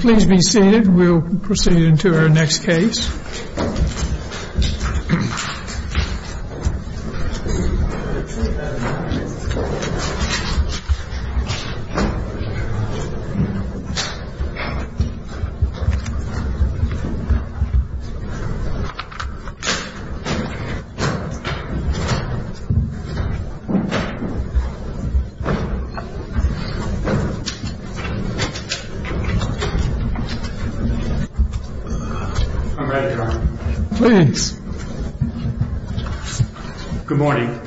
Please be seated. We'll proceed into our next case. I'm ready, Your Honor. Please. Good morning.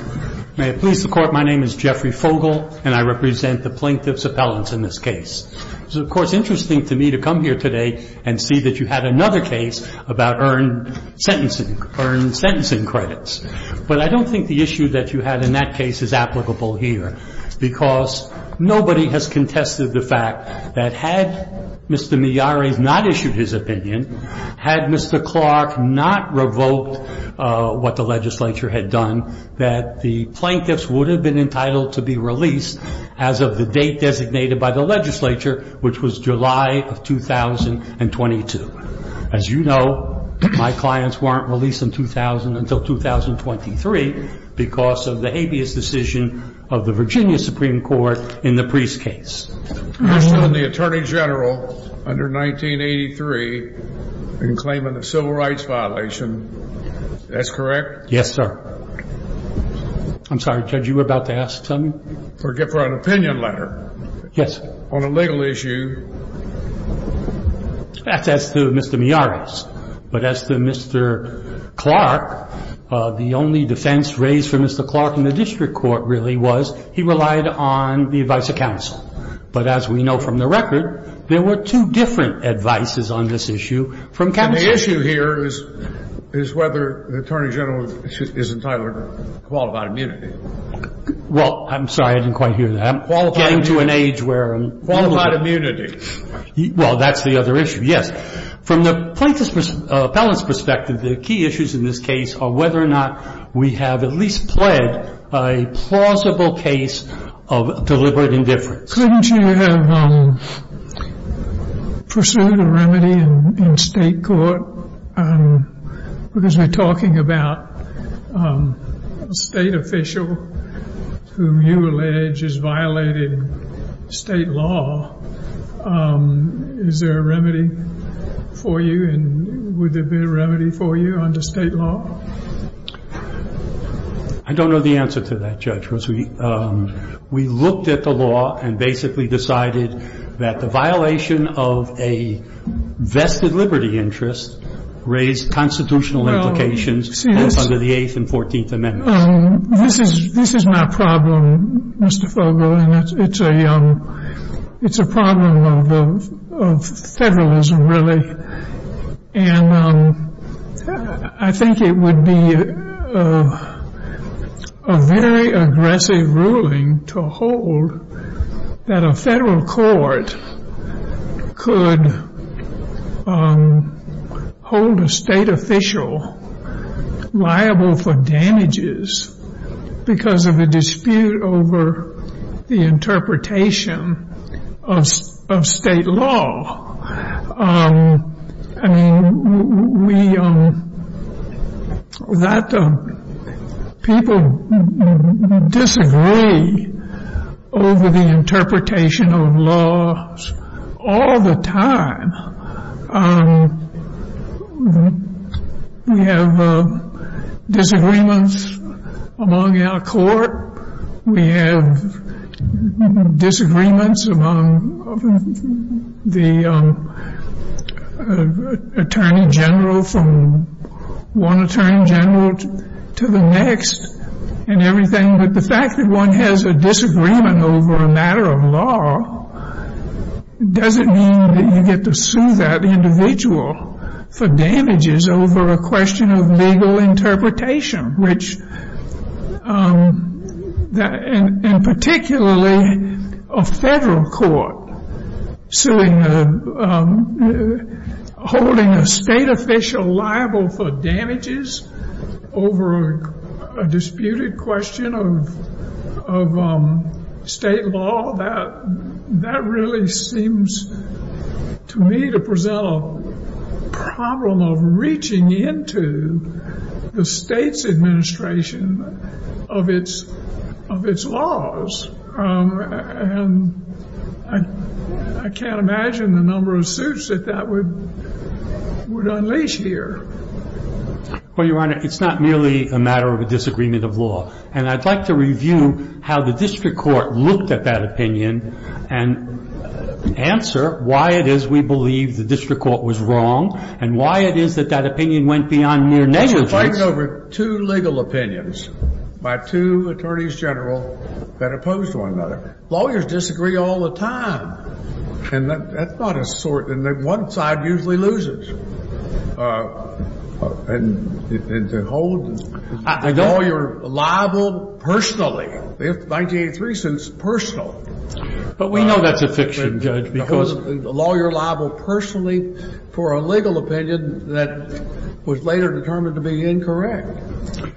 May it please the Court, my name is Jeffrey Fogle, and I represent the plaintiff's appellants in this case. It's, of course, interesting to me to come here today and see that you had another case about earned sentencing, earned sentencing credits. But I don't think the issue that you had in that case is applicable here. Because nobody has contested the fact that had Mr. Miyares not issued his opinion, had Mr. Clark not revoked what the legislature had done, that the plaintiffs would have been entitled to be released as of the date designated by the legislature, which was July of 2022. As you know, my clients weren't released in 2000 until 2023 because of the habeas decision of the Virginia Supreme Court in the Priest case. You're still in the Attorney General under 1983 and claiming a civil rights violation, that's correct? Yes, sir. I'm sorry, Judge, you were about to ask something? For an opinion letter. Yes. On a legal issue. That's as to Mr. Miyares. But as to Mr. Clark, the only defense raised for Mr. Clark in the district court really was he relied on the advice of counsel. But as we know from the record, there were two different advices on this issue from counsel. The issue here is whether the Attorney General is entitled to qualified immunity. Well, I'm sorry, I didn't quite hear that. Qualified immunity. Well, that's the other issue, yes. From the plaintiff's perspective, the key issues in this case are whether or not we have at least pled a plausible case of deliberate indifference. Couldn't you have pursued a remedy in state court? Because we're talking about a state official whom you allege has violated state law. Is there a remedy for you, and would there be a remedy for you under state law? I don't know the answer to that, Judge. We looked at the law and basically decided that the violation of a vested liberty interest raised constitutional implications under the Eighth and Fourteenth Amendments. This is my problem, Mr. Fogel, and it's a problem of federalism, really. And I think it would be a very aggressive ruling to hold that a federal court could hold a state official liable for damages because of a dispute over the interpretation of state law. I mean, people disagree over the interpretation of laws all the time. We have disagreements among our court. We have disagreements among the attorney general from one attorney general to the next and everything. But the fact that one has a disagreement over a matter of law doesn't mean that you get to sue that individual for damages over a question of legal interpretation, and particularly a federal court holding a state official liable for damages over a disputed question of state law. That really seems to me to present a problem of reaching into the state's administration of its laws. And I can't imagine the number of suits that that would unleash here. Well, Your Honor, it's not merely a matter of a disagreement of law. And I'd like to review how the district court looked at that opinion and answer why it is we believe the district court was wrong and why it is that that opinion went beyond mere negligence. Well, you're fighting over two legal opinions by two attorneys general that opposed one another. Lawyers disagree all the time. And that's not a sort that one side usually loses. And to hold the lawyer liable personally, the 1983 sentence, personal. But we know that's a fiction, Judge, because the lawyer liable personally for a legal opinion that was later determined to be incorrect.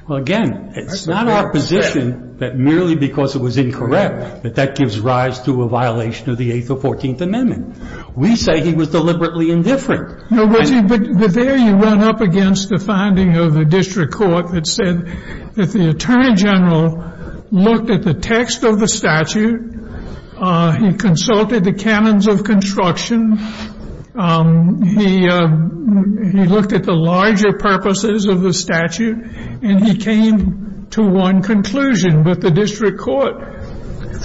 Well, again, it's not our position that merely because it was incorrect that that gives rise to a violation of the Eighth or Fourteenth Amendment. We say he was deliberately indifferent. No, but there you went up against the finding of the district court that said that the attorney general looked at the text of the statute. He consulted the canons of construction. He looked at the larger purposes of the statute. And he came to one conclusion. But the district court,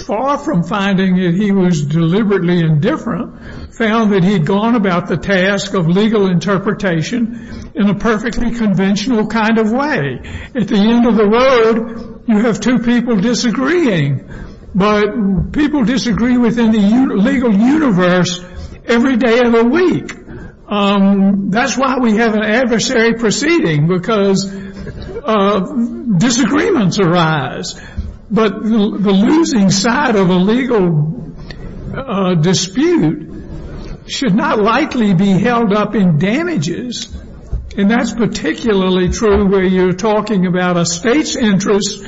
far from finding that he was deliberately indifferent, found that he'd gone about the task of legal interpretation in a perfectly conventional kind of way. At the end of the road, you have two people disagreeing. But people disagree within the legal universe every day of the week. That's why we have an adversary proceeding, because disagreements arise. But the losing side of a legal dispute should not likely be held up in damages. And that's particularly true where you're talking about a state's interest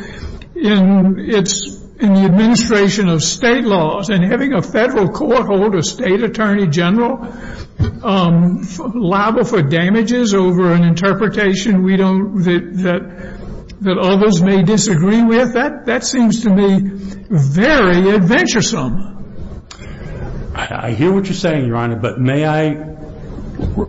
in the administration of state laws. And having a federal court hold a state attorney general liable for damages over an interpretation that others may disagree with, that seems to me very adventuresome. I hear what you're saying, Your Honor, but may I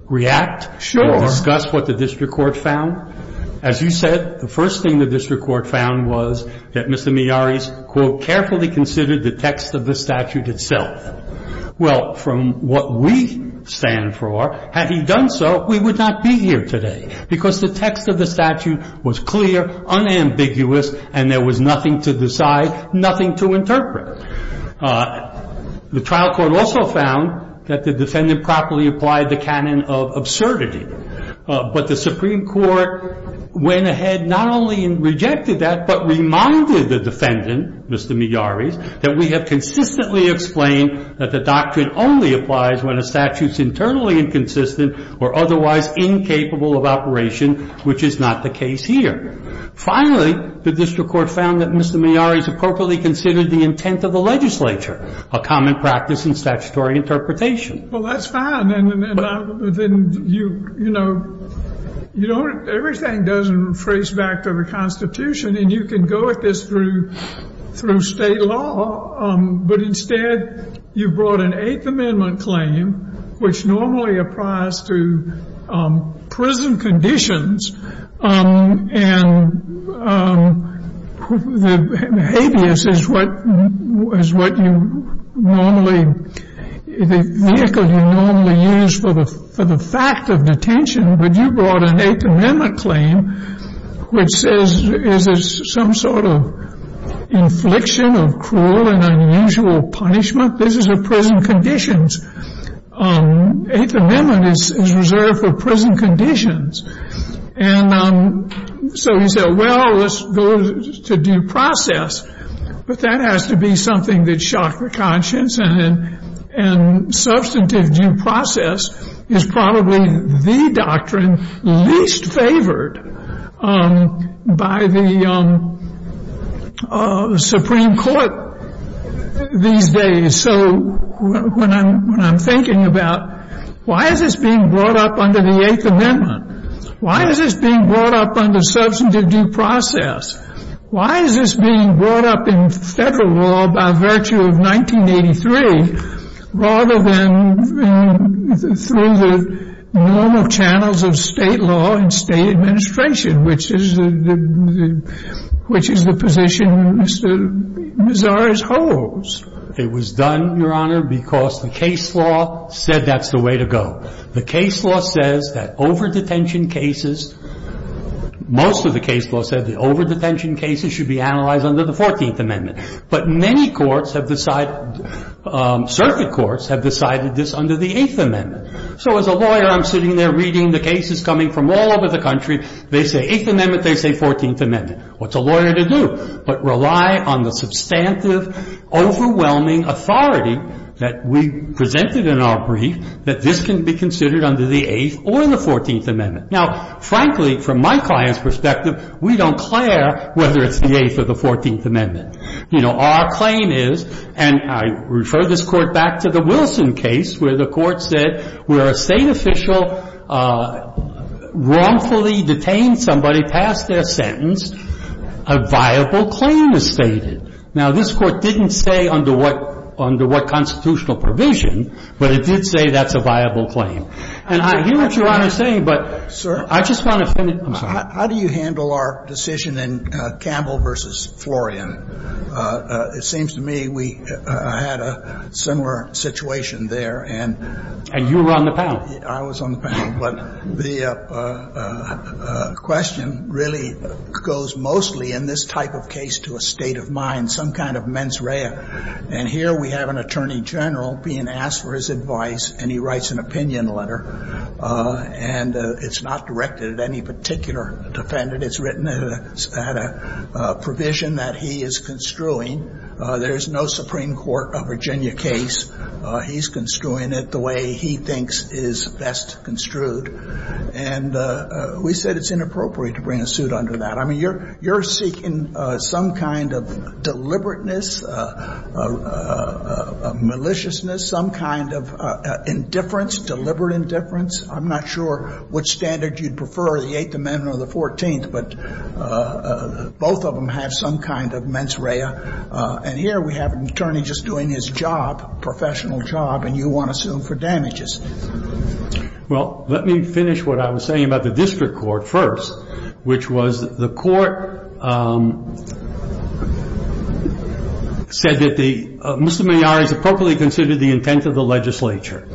react? Sure. And discuss what the district court found? As you said, the first thing the district court found was that Mr. Meharry's, quote, carefully considered the text of the statute itself. Well, from what we stand for, had he done so, we would not be here today. Because the text of the statute was clear, unambiguous, and there was nothing to decide, nothing to interpret. The trial court also found that the defendant properly applied the canon of absurdity. But the Supreme Court went ahead not only and rejected that, but reminded the defendant, Mr. Meharry's, that we have consistently explained that the doctrine only applies when a statute's internally inconsistent or otherwise incapable of operation, which is not the case here. Finally, the district court found that Mr. Meharry's appropriately considered the intent of the legislature, a common practice in statutory interpretation. Well, that's fine. And then, you know, you don't – everything doesn't rephrase back to the Constitution, and you can go at this through state law. But instead, you brought an Eighth Amendment claim, which normally applies to prison conditions. And the habeas is what you normally – the vehicle you normally use for the fact of detention. But you brought an Eighth Amendment claim, which says, is it some sort of infliction of cruel and unusual punishment? This is a prison condition. Eighth Amendment is reserved for prison conditions. And so he said, well, let's go to due process. But that has to be something that shock the conscience. And substantive due process is probably the doctrine least favored by the Supreme Court these days. And so when I'm thinking about why is this being brought up under the Eighth Amendment? Why is this being brought up under substantive due process? Why is this being brought up in federal law by virtue of 1983 rather than through the normal channels of state law and state administration, which is the position Mr. Mezarish holds? It was done, Your Honor, because the case law said that's the way to go. The case law says that over-detention cases – most of the case law said that over-detention cases should be analyzed under the Fourteenth Amendment. But many courts have decided – circuit courts have decided this under the Eighth Amendment. So as a lawyer, I'm sitting there reading the cases coming from all over the country. They say Eighth Amendment. They say Fourteenth Amendment. What's a lawyer to do? I'm not going to go into the specifics of the Fourteenth Amendment of the case. but rely on the substantive, overwhelming authority that we presented in our brief that this can be considered under the Eighth or the Fourteenth Amendment. Now, frankly, from my client's perspective, we don't care whether it's the Eighth or the Fourteenth Amendment. You know, our claim is, and I refer this Court back to the Wilson case where the Court said where a State official wrongfully detained somebody past their sentence, a viable claim is stated. Now, this Court didn't say under what constitutional provision, but it did say that's a viable claim. And I hear what Your Honor is saying, but I just want to finish. I'm sorry. How do you handle our decision in Campbell v. Florian? It seems to me we had a similar situation there. And you were on the panel. I was on the panel. But the question really goes mostly in this type of case to a state of mind, some kind of mens rea. And here we have an attorney general being asked for his advice, and he writes an opinion letter, and it's not directed at any particular defendant. It's written at a provision that he is construing. There is no Supreme Court of Virginia case. He's construing it the way he thinks is best construed. And we said it's inappropriate to bring a suit under that. I mean, you're seeking some kind of deliberateness, maliciousness, some kind of indifference, deliberate indifference. I'm not sure which standard you'd prefer, the Eighth Amendment or the Fourteenth, but both of them have some kind of mens rea. And here we have an attorney just doing his job, professional job, and you want to sue him for damages. Well, let me finish what I was saying about the district court first, which was the court said that the Mr. Mejia is appropriately considered the intent of the legislature.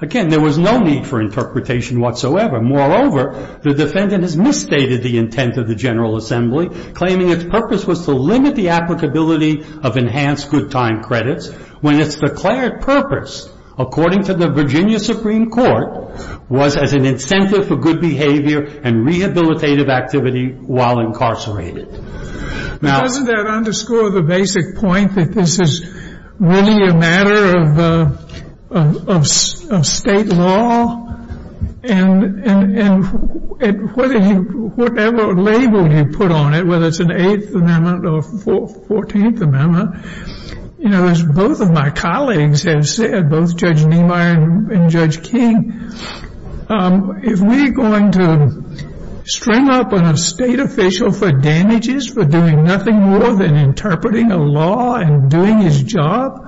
Again, there was no need for interpretation whatsoever. Moreover, the defendant has misstated the intent of the General Assembly, claiming its purpose was to limit the applicability of enhanced good time credits when its declared purpose, according to the Virginia Supreme Court, was as an incentive for good behavior and rehabilitative activity while incarcerated. Doesn't that underscore the basic point that this is really a matter of state law? And whatever label you put on it, whether it's an Eighth Amendment or Fourteenth Amendment, as both of my colleagues have said, both Judge Niemeyer and Judge King, if we're going to string up a state official for damages, for doing nothing more than interpreting a law and doing his job,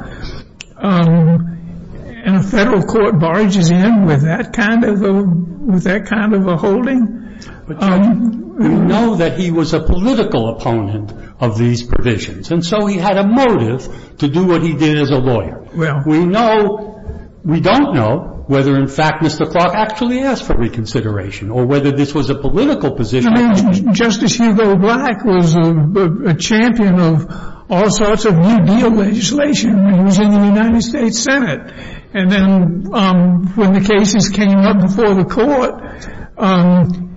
and a federal court barges in with that kind of a holding. We know that he was a political opponent of these provisions, and so he had a motive to do what he did as a lawyer. We don't know whether, in fact, Mr. Clark actually asked for reconsideration or whether this was a political position. I mean, Justice Hugo Black was a champion of all sorts of New Deal legislation when he was in the United States Senate. And then when the cases came up before the court,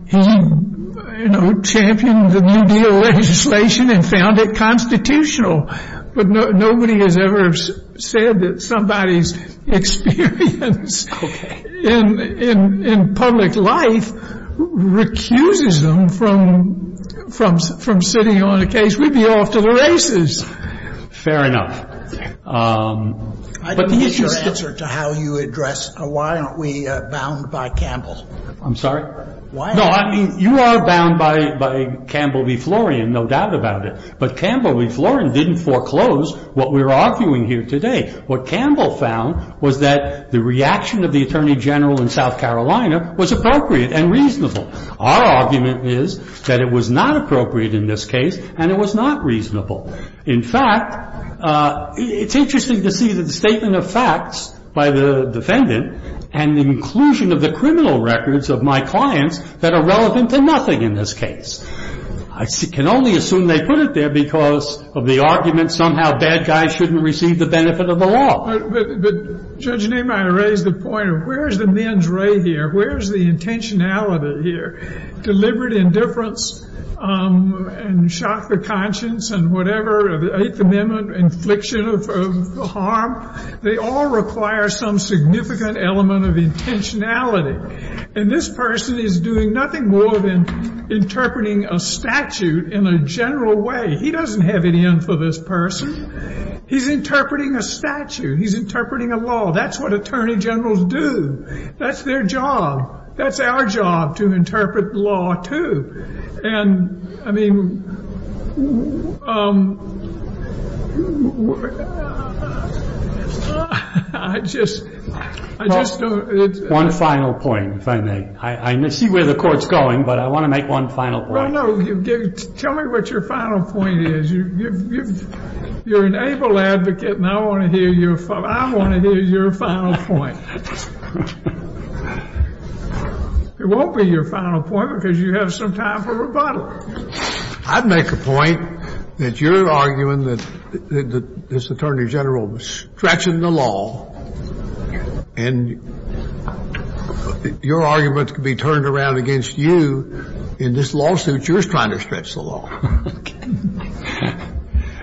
he championed the New Deal legislation and found it constitutional. But nobody has ever said that somebody's experience in public life recuses them from sitting on a case. We'd be off to the races. Fair enough. I didn't get your answer to how you address why aren't we bound by Campbell. I'm sorry? Why aren't we? No, I mean, you are bound by Campbell v. Florian, no doubt about it. But Campbell v. Florian didn't foreclose what we're arguing here today. What Campbell found was that the reaction of the Attorney General in South Carolina was appropriate and reasonable. Our argument is that it was not appropriate in this case and it was not reasonable. In fact, it's interesting to see that the statement of facts by the defendant and the inclusion of the criminal records of my clients that are relevant to nothing in this case. I can only assume they put it there because of the argument somehow bad guys shouldn't receive the benefit of the law. But, Judge Nehmeyer, I raise the point of where is the men's ray here? Where is the intentionality here? Deliberate indifference and shock of conscience and whatever, the Eighth Amendment, infliction of harm, they all require some significant element of intentionality. And this person is doing nothing more than interpreting a statute in a general way. He doesn't have it in for this person. He's interpreting a statute. He's interpreting a law. That's what Attorney Generals do. That's their job. That's our job to interpret law, too. And, I mean, I just don't... One final point, if I may. I see where the Court's going, but I want to make one final point. Well, no, tell me what your final point is. You're an able advocate, and I want to hear your final point. It won't be your final point because you have some time for rebuttal. I'd make a point that you're arguing that this Attorney General was stretching the law and your arguments could be turned around against you in this lawsuit you're trying to stretch the law.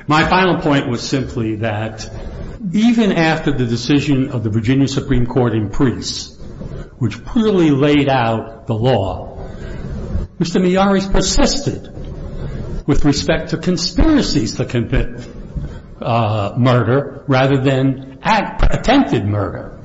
My final point was simply that even after the decision of the Virginia Supreme Court in Preece, which clearly laid out the law, Mr. Miyares persisted with respect to conspiracies to commit murder rather than attempted murder,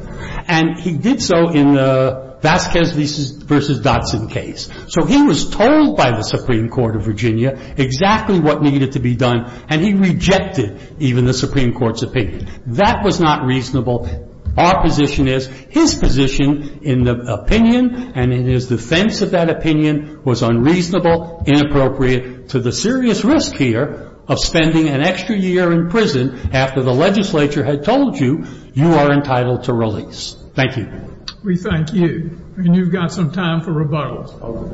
and he did so in the Vasquez v. Dodson case. So he was told by the Supreme Court of Virginia exactly what needed to be done, and he rejected even the Supreme Court's opinion. That was not reasonable. Our position is his position in the opinion and in his defense of that opinion was unreasonable, inappropriate to the serious risk here of spending an extra year in prison after the legislature had told you you are entitled to release. Thank you. We thank you. And you've got some time for rebuttal.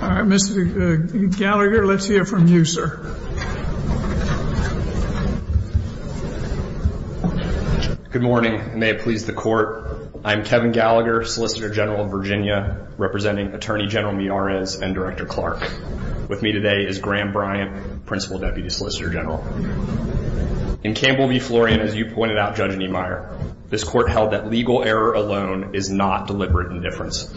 All right, Mr. Gallagher, let's hear from you, sir. Good morning, and may it please the Court. I'm Kevin Gallagher, Solicitor General of Virginia, representing Attorney General Miyares and Director Clark. With me today is Graham Bryant, Principal Deputy Solicitor General. In Campbell v. Florian, as you pointed out, Judge Niemeyer, this Court held that legal error alone is not deliberate indifference.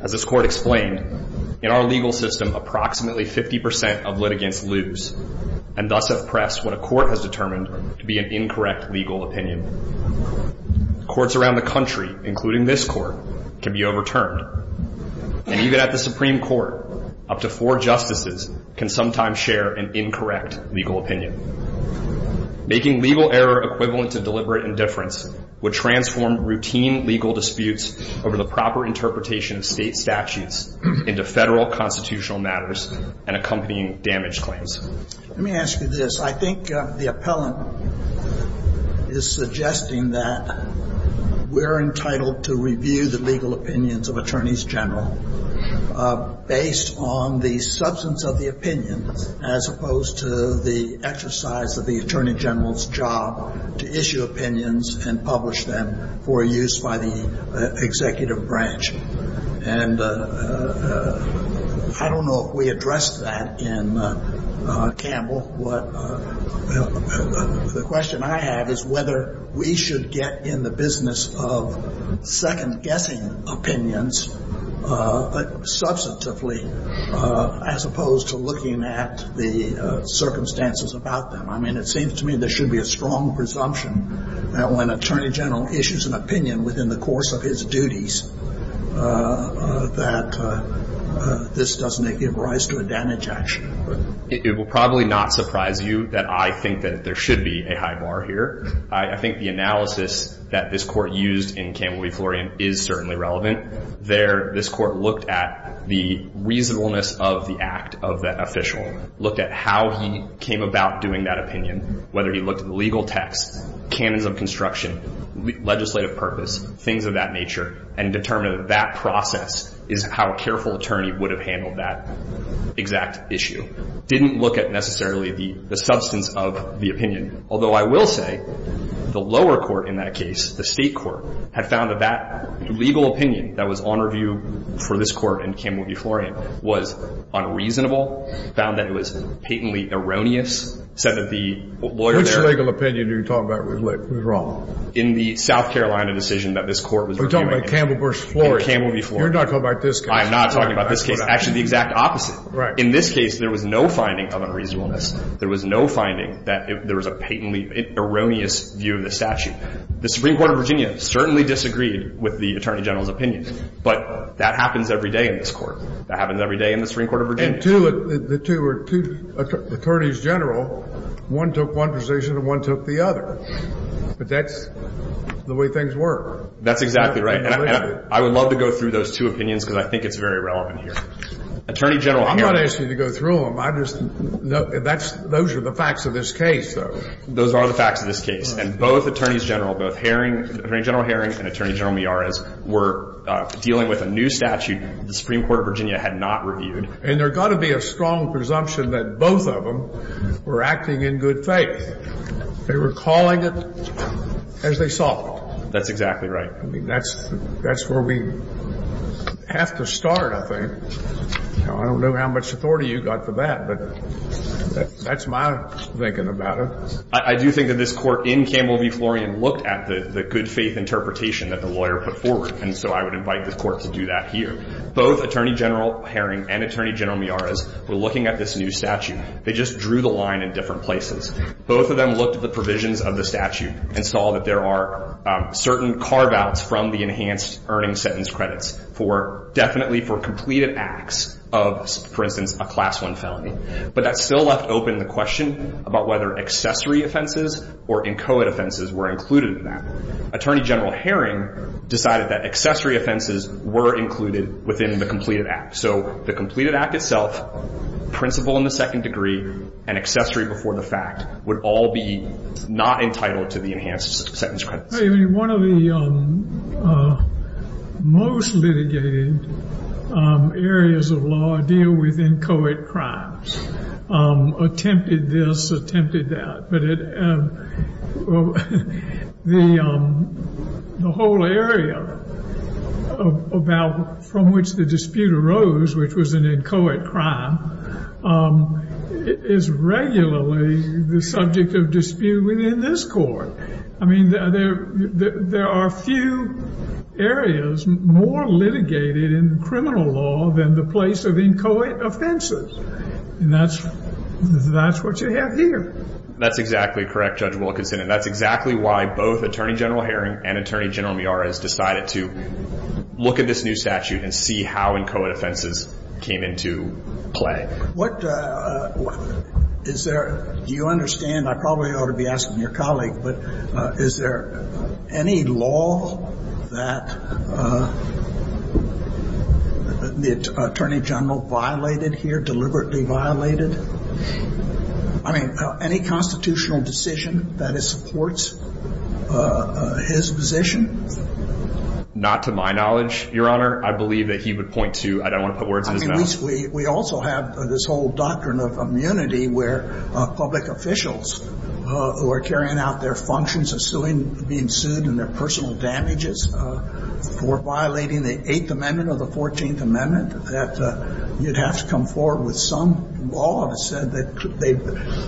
As this Court explained, in our legal system approximately 50% of litigants lose and thus have pressed what a court has determined to be an incorrect legal opinion. Courts around the country, including this Court, can be overturned. And even at the Supreme Court, up to four justices can sometimes share an incorrect legal opinion. Making legal error equivalent to deliberate indifference would transform routine legal disputes over the proper interpretation of State statutes into Federal constitutional matters and accompanying damage claims. Let me ask you this. I think the appellant is suggesting that we're entitled to review the legal opinions of Attorneys General based on the substance of the opinion as opposed to the exercise of the Attorney General's job to issue opinions and publish them for use by the executive branch. And I don't know if we addressed that in Campbell. The question I have is whether we should get in the business of second-guessing opinions substantively as opposed to looking at the circumstances about them. I mean, it seems to me there should be a strong presumption that when Attorney General issues an opinion within the course of his duties that this doesn't give rise to a damage action. It will probably not surprise you that I think that there should be a high bar here. I think the analysis that this Court used in Campbell v. Florian is certainly relevant. There, this Court looked at the reasonableness of the act of that official, looked at how he came about doing that opinion, whether he looked at the legal text, canons of construction, legislative purpose, things of that nature, and determined that that process is how a careful attorney would have handled that exact issue. Didn't look at necessarily the substance of the opinion, although I will say the lower court in that case, the state court, had found that that legal opinion that was on review for this Court in Campbell v. Florian was unreasonable, found that it was patently erroneous, said that the lawyer there… Which legal opinion are you talking about was wrong? In the South Carolina decision that this Court was reviewing. We're talking about Campbell v. Florian. In Campbell v. Florian. You're not talking about this case. I am not talking about this case. Actually, the exact opposite. Right. In this case, there was no finding of unreasonableness. There was no finding that there was a patently erroneous view of the statute. The Supreme Court of Virginia certainly disagreed with the Attorney General's opinion, but that happens every day in this Court. That happens every day in the Supreme Court of Virginia. And two of the two were two attorneys general. One took one position and one took the other. But that's the way things work. That's exactly right. And I would love to go through those two opinions because I think it's very relevant here. Attorney General Herring… I'm not asking you to go through them. I just know that's – those are the facts of this case, though. Those are the facts of this case. And both attorneys general, both Herring, Attorney General Herring and Attorney General Meares, were dealing with a new statute the Supreme Court of Virginia had not reviewed. And there's got to be a strong presumption that both of them were acting in good faith. They were calling it as they saw fit. That's exactly right. I mean, that's where we have to start, I think. I don't know how much authority you've got for that, but that's my thinking about it. I do think that this Court in Campbell v. Florian looked at the good faith interpretation that the lawyer put forward. And so I would invite the Court to do that here. Both Attorney General Herring and Attorney General Meares were looking at this new statute. They just drew the line in different places. Both of them looked at the provisions of the statute and saw that there are certain carve-outs from the enhanced earning sentence credits for – definitely for completed acts of, for instance, a Class I felony. But that still left open the question about whether accessory offenses or inchoate offenses were included in that. Attorney General Herring decided that accessory offenses were included within the completed act. So the completed act itself, principle in the second degree, and accessory before the fact would all be not entitled to the enhanced sentence credits. I mean, one of the most litigated areas of law deal with inchoate crimes. Attempted this, attempted that. But the whole area about from which the dispute arose, which was an inchoate crime, is regularly the subject of dispute within this Court. I mean, there are few areas more litigated in criminal law than the place of inchoate offenses. And that's what you have here. That's exactly correct, Judge Wilkinson. And that's exactly why both Attorney General Herring and Attorney General Meares decided to look at this new statute and see how inchoate offenses came into play. What – is there – do you understand? I probably ought to be asking your colleague, but is there any law that the Attorney General violated here, deliberately violated? I mean, any constitutional decision that supports his position? Not to my knowledge, Your Honor. I believe that he would point to – I don't want to put words in his mouth. We also have this whole doctrine of immunity where public officials who are carrying out their functions of being sued and their personal damages for violating the Eighth Amendment, that you'd have to come forward with some law that said that they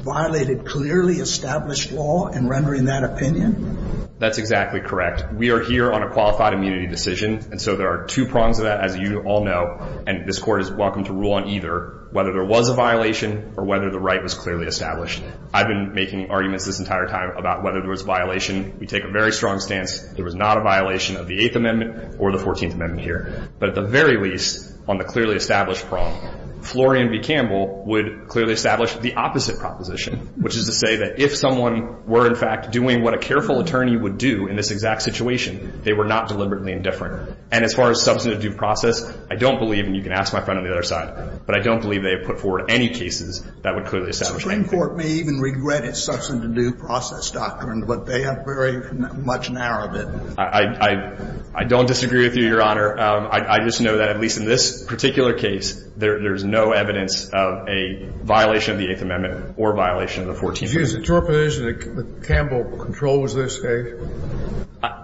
violated clearly established law in rendering that opinion? That's exactly correct. We are here on a qualified immunity decision. And so there are two prongs to that, as you all know. And this Court is welcome to rule on either whether there was a violation or whether the right was clearly established. I've been making arguments this entire time about whether there was a violation. We take a very strong stance there was not a violation of the Eighth Amendment or the Fourteenth Amendment here. But at the very least, on the clearly established prong, Florian v. Campbell would clearly establish the opposite proposition, which is to say that if someone were, in fact, doing what a careful attorney would do in this exact situation, they were not deliberately indifferent. And as far as substantive due process, I don't believe – and you can ask my friend on the other side – but I don't believe they have put forward any cases that would clearly establish anything. The Supreme Court may even regret its substantive due process doctrine, but they have very much narrowed it. I don't disagree with you, Your Honor. I just know that at least in this particular case, there's no evidence of a violation of the Eighth Amendment or a violation of the Fourteenth Amendment. Excuse me. Is the interpretation that Campbell controls this case?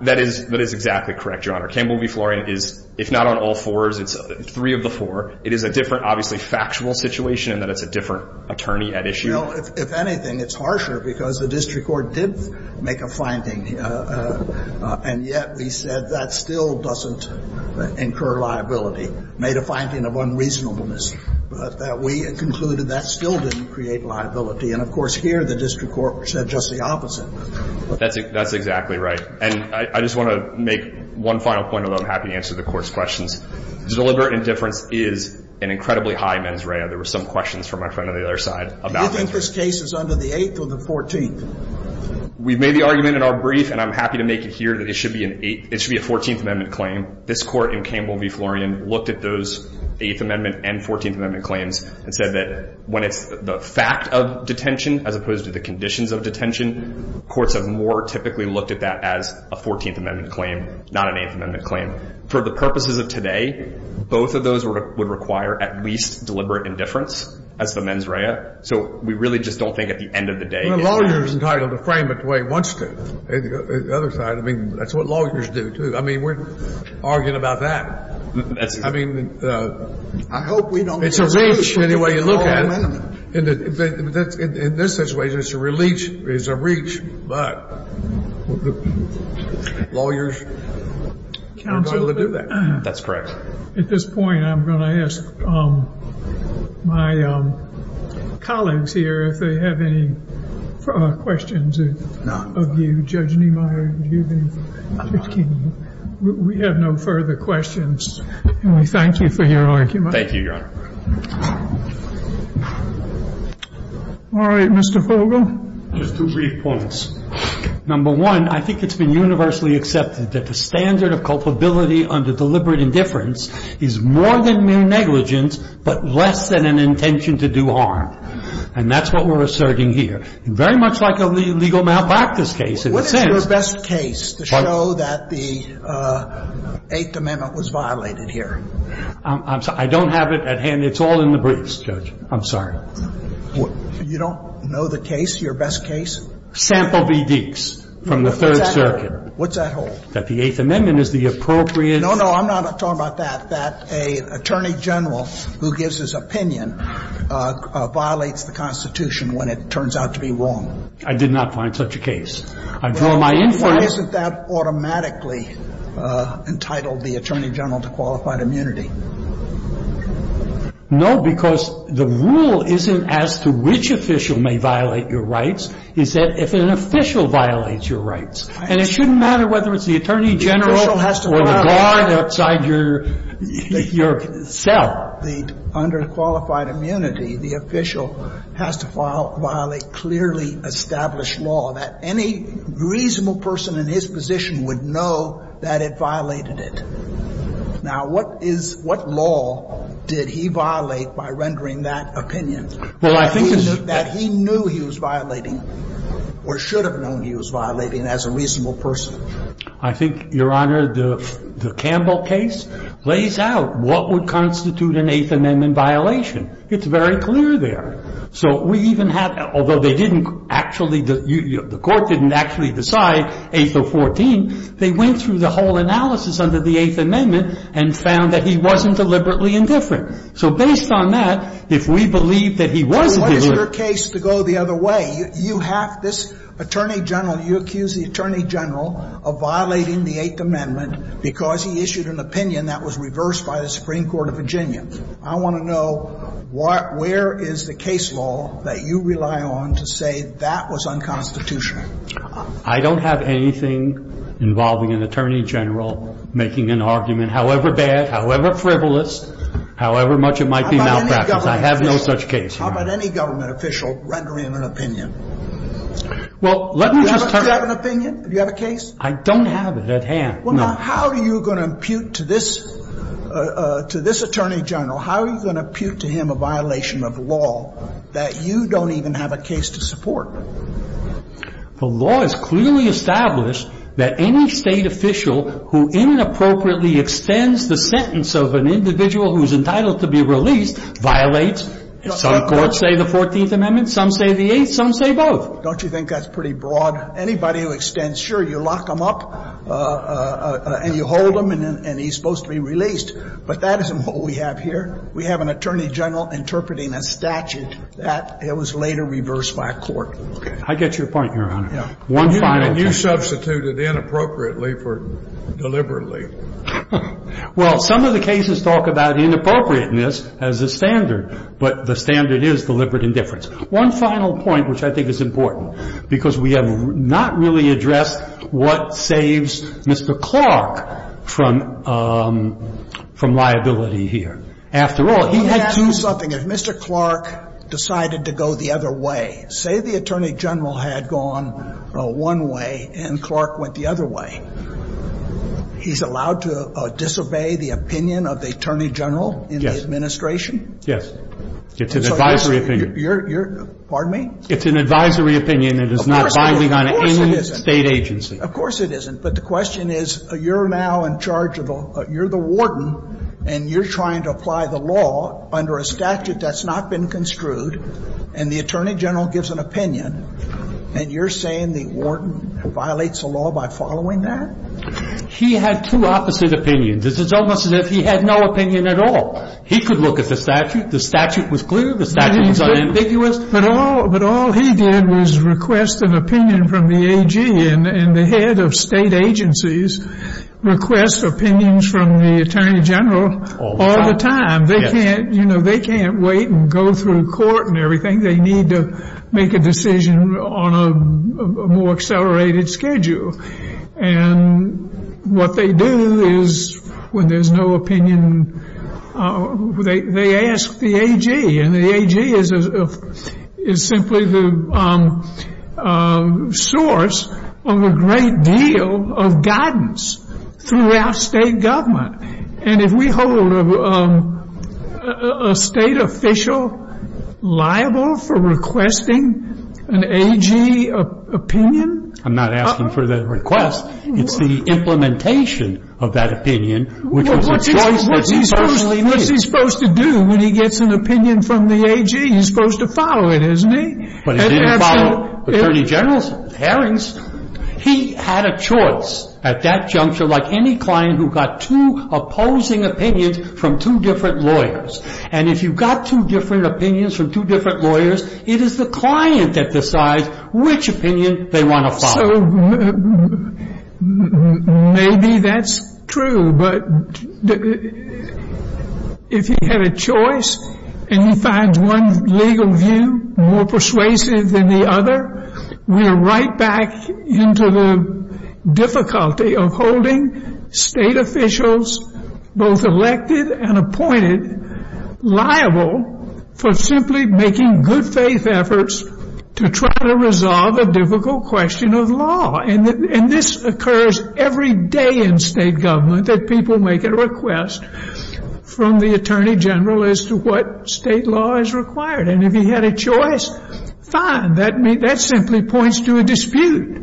That is exactly correct, Your Honor. Campbell v. Florian is, if not on all fours, it's three of the four. It is a different, obviously, factual situation in that it's a different attorney at issue. You know, if anything, it's harsher because the district court did make a finding, and yet we said that still doesn't incur liability, made a finding of unreasonableness, but that we concluded that still didn't create liability. And, of course, here the district court said just the opposite. That's exactly right. And I just want to make one final point, although I'm happy to answer the Court's questions. Deliberate indifference is an incredibly high mens rea. There were some questions from my friend on the other side about that. Do you think this case is under the Eighth or the Fourteenth? We made the argument in our brief, and I'm happy to make it here, that it should be an Eighth. It should be a Fourteenth Amendment claim. This Court in Campbell v. Florian looked at those Eighth Amendment and Fourteenth Amendment claims and said that when it's the fact of detention as opposed to the conditions of detention, courts have more typically looked at that as a Fourteenth Amendment claim, not an Eighth Amendment claim. For the purposes of today, both of those would require at least deliberate indifference as the mens rea. So we really just don't think at the end of the day it's an Eighth. The lawyer is entitled to frame it the way he wants to. On the other side, I mean, that's what lawyers do, too. I mean, we're arguing about that. I mean, it's a reach any way you look at it. In this situation, it's a release, it's a reach. But lawyers are entitled to do that. That's correct. At this point, I'm going to ask my colleagues here if they have any questions of you. Judge Niemeyer, do you have anything? We have no further questions. And we thank you for your argument. Thank you, Your Honor. All right. Mr. Fogle. I have two brief points. Number one, I think it's been universally accepted that the standard of culpability under deliberate indifference is more than mere negligence, but less than an intention to do harm. And that's what we're asserting here. Very much like a legal malpractice case in a sense. What is your best case to show that the Eighth Amendment was violated here? I don't have it at hand. It's all in the briefs, Judge. I'm sorry. You don't know the case, your best case? Sample v. Deeks from the Third Circuit. What's that hold? That the Eighth Amendment is the appropriate. No, no. I'm not talking about that. That an attorney general who gives his opinion violates the Constitution when it turns out to be wrong. I did not find such a case. I draw my inference. Isn't that automatically entitled the attorney general to qualified immunity? No, because the rule isn't as to which official may violate your rights. It's that if an official violates your rights. And it shouldn't matter whether it's the attorney general or the guard outside your cell. The under qualified immunity, the official has to violate clearly established law that any reasonable person in his position would know that it violated it. Now, what is, what law did he violate by rendering that opinion? Well, I think it's. That he knew he was violating or should have known he was violating as a reasonable person. I think, Your Honor, the Campbell case lays out what would constitute an Eighth Amendment violation. It's very clear there. So we even have, although they didn't actually, the court didn't actually decide, they went through the whole analysis under the Eighth Amendment and found that he wasn't deliberately indifferent. So based on that, if we believe that he wasn't deliberate. So what is your case to go the other way? You have this attorney general, you accuse the attorney general of violating the Eighth Amendment because he issued an opinion that was reversed by the Supreme Court of Virginia. I want to know what, where is the case law that you rely on to say that was unconstitutional? I don't have anything involving an attorney general making an argument, however bad, however frivolous, however much it might be malpractice. I have no such case. How about any government official rendering an opinion? Well, let me just. Do you have an opinion? Do you have a case? I don't have it at hand. Well, now, how are you going to impute to this, to this attorney general, how are you going to impute to him a violation of law that you don't even have a case to support? The law is clearly established that any State official who inappropriately extends the sentence of an individual who is entitled to be released violates. Some courts say the Fourteenth Amendment. Some say the Eighth. Some say both. Don't you think that's pretty broad? Anybody who extends, sure, you lock him up and you hold him and he's supposed to be released. But that isn't what we have here. We have an attorney general interpreting a statute that was later reversed by a court. I get your point, Your Honor. Yeah. One final point. And you substituted inappropriately for deliberately. Well, some of the cases talk about inappropriateness as a standard. But the standard is deliberate indifference. One final point, which I think is important, because we have not really addressed what saves Mr. Clark from liability here. After all, he had to. Let me ask you something. If Mr. Clark decided to go the other way, say the attorney general had gone one way and Clark went the other way, he's allowed to disobey the opinion of the attorney general in the administration? Yes. It's an advisory opinion. Pardon me? It's an advisory opinion. It's not binding on any State agency. Of course it isn't. But the question is, you're now in charge of the – you're the warden and you're trying to apply the law under a statute that's not been construed, and the attorney general gives an opinion, and you're saying the warden violates the law by following that? He had two opposite opinions. It's almost as if he had no opinion at all. He could look at the statute. The statute was clear. The statute was unambiguous. But all he did was request an opinion from the AG, and the head of State agencies requests opinions from the attorney general all the time. Yes. They can't wait and go through court and everything. They need to make a decision on a more accelerated schedule. And what they do is when there's no opinion, they ask the AG. And the AG is simply the source of a great deal of guidance throughout State government. And if we hold a State official liable for requesting an AG opinion – I'm not asking for the request. It's the implementation of that opinion, which was a choice that he certainly made. What is he supposed to do when he gets an opinion from the AG? He's supposed to follow it, isn't he? But if he didn't follow attorney general's hearings, he had a choice at that juncture, like any client who got two opposing opinions from two different lawyers. And if you got two different opinions from two different lawyers, it is the client that decides which opinion they want to follow. So maybe that's true. But if he had a choice and he finds one legal view more persuasive than the other, we're right back into the difficulty of holding State officials, both elected and appointed, liable for simply making good-faith efforts to try to resolve a difficult question of law. And this occurs every day in State government, that people make a request from the attorney general as to what State law is required. And if he had a choice, fine. That simply points to a dispute.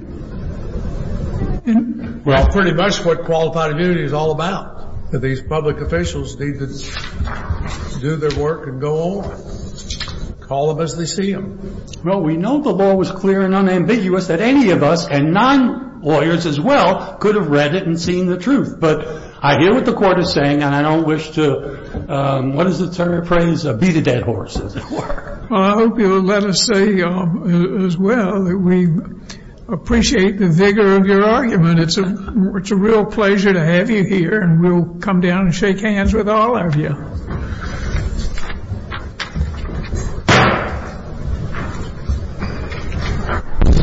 And that's pretty much what qualified immunity is all about, that these public officials need to do their work and go on. Call them as they see them. Well, we know the law was clear and unambiguous that any of us, and non-lawyers as well, could have read it and seen the truth. But I hear what the Court is saying, and I don't wish to, what is the term, appraise a beat-a-dead horse, as it were. Well, I hope you'll let us say as well that we appreciate the vigor of your argument. It's a real pleasure to have you here, and we'll come down and shake hands with all of you.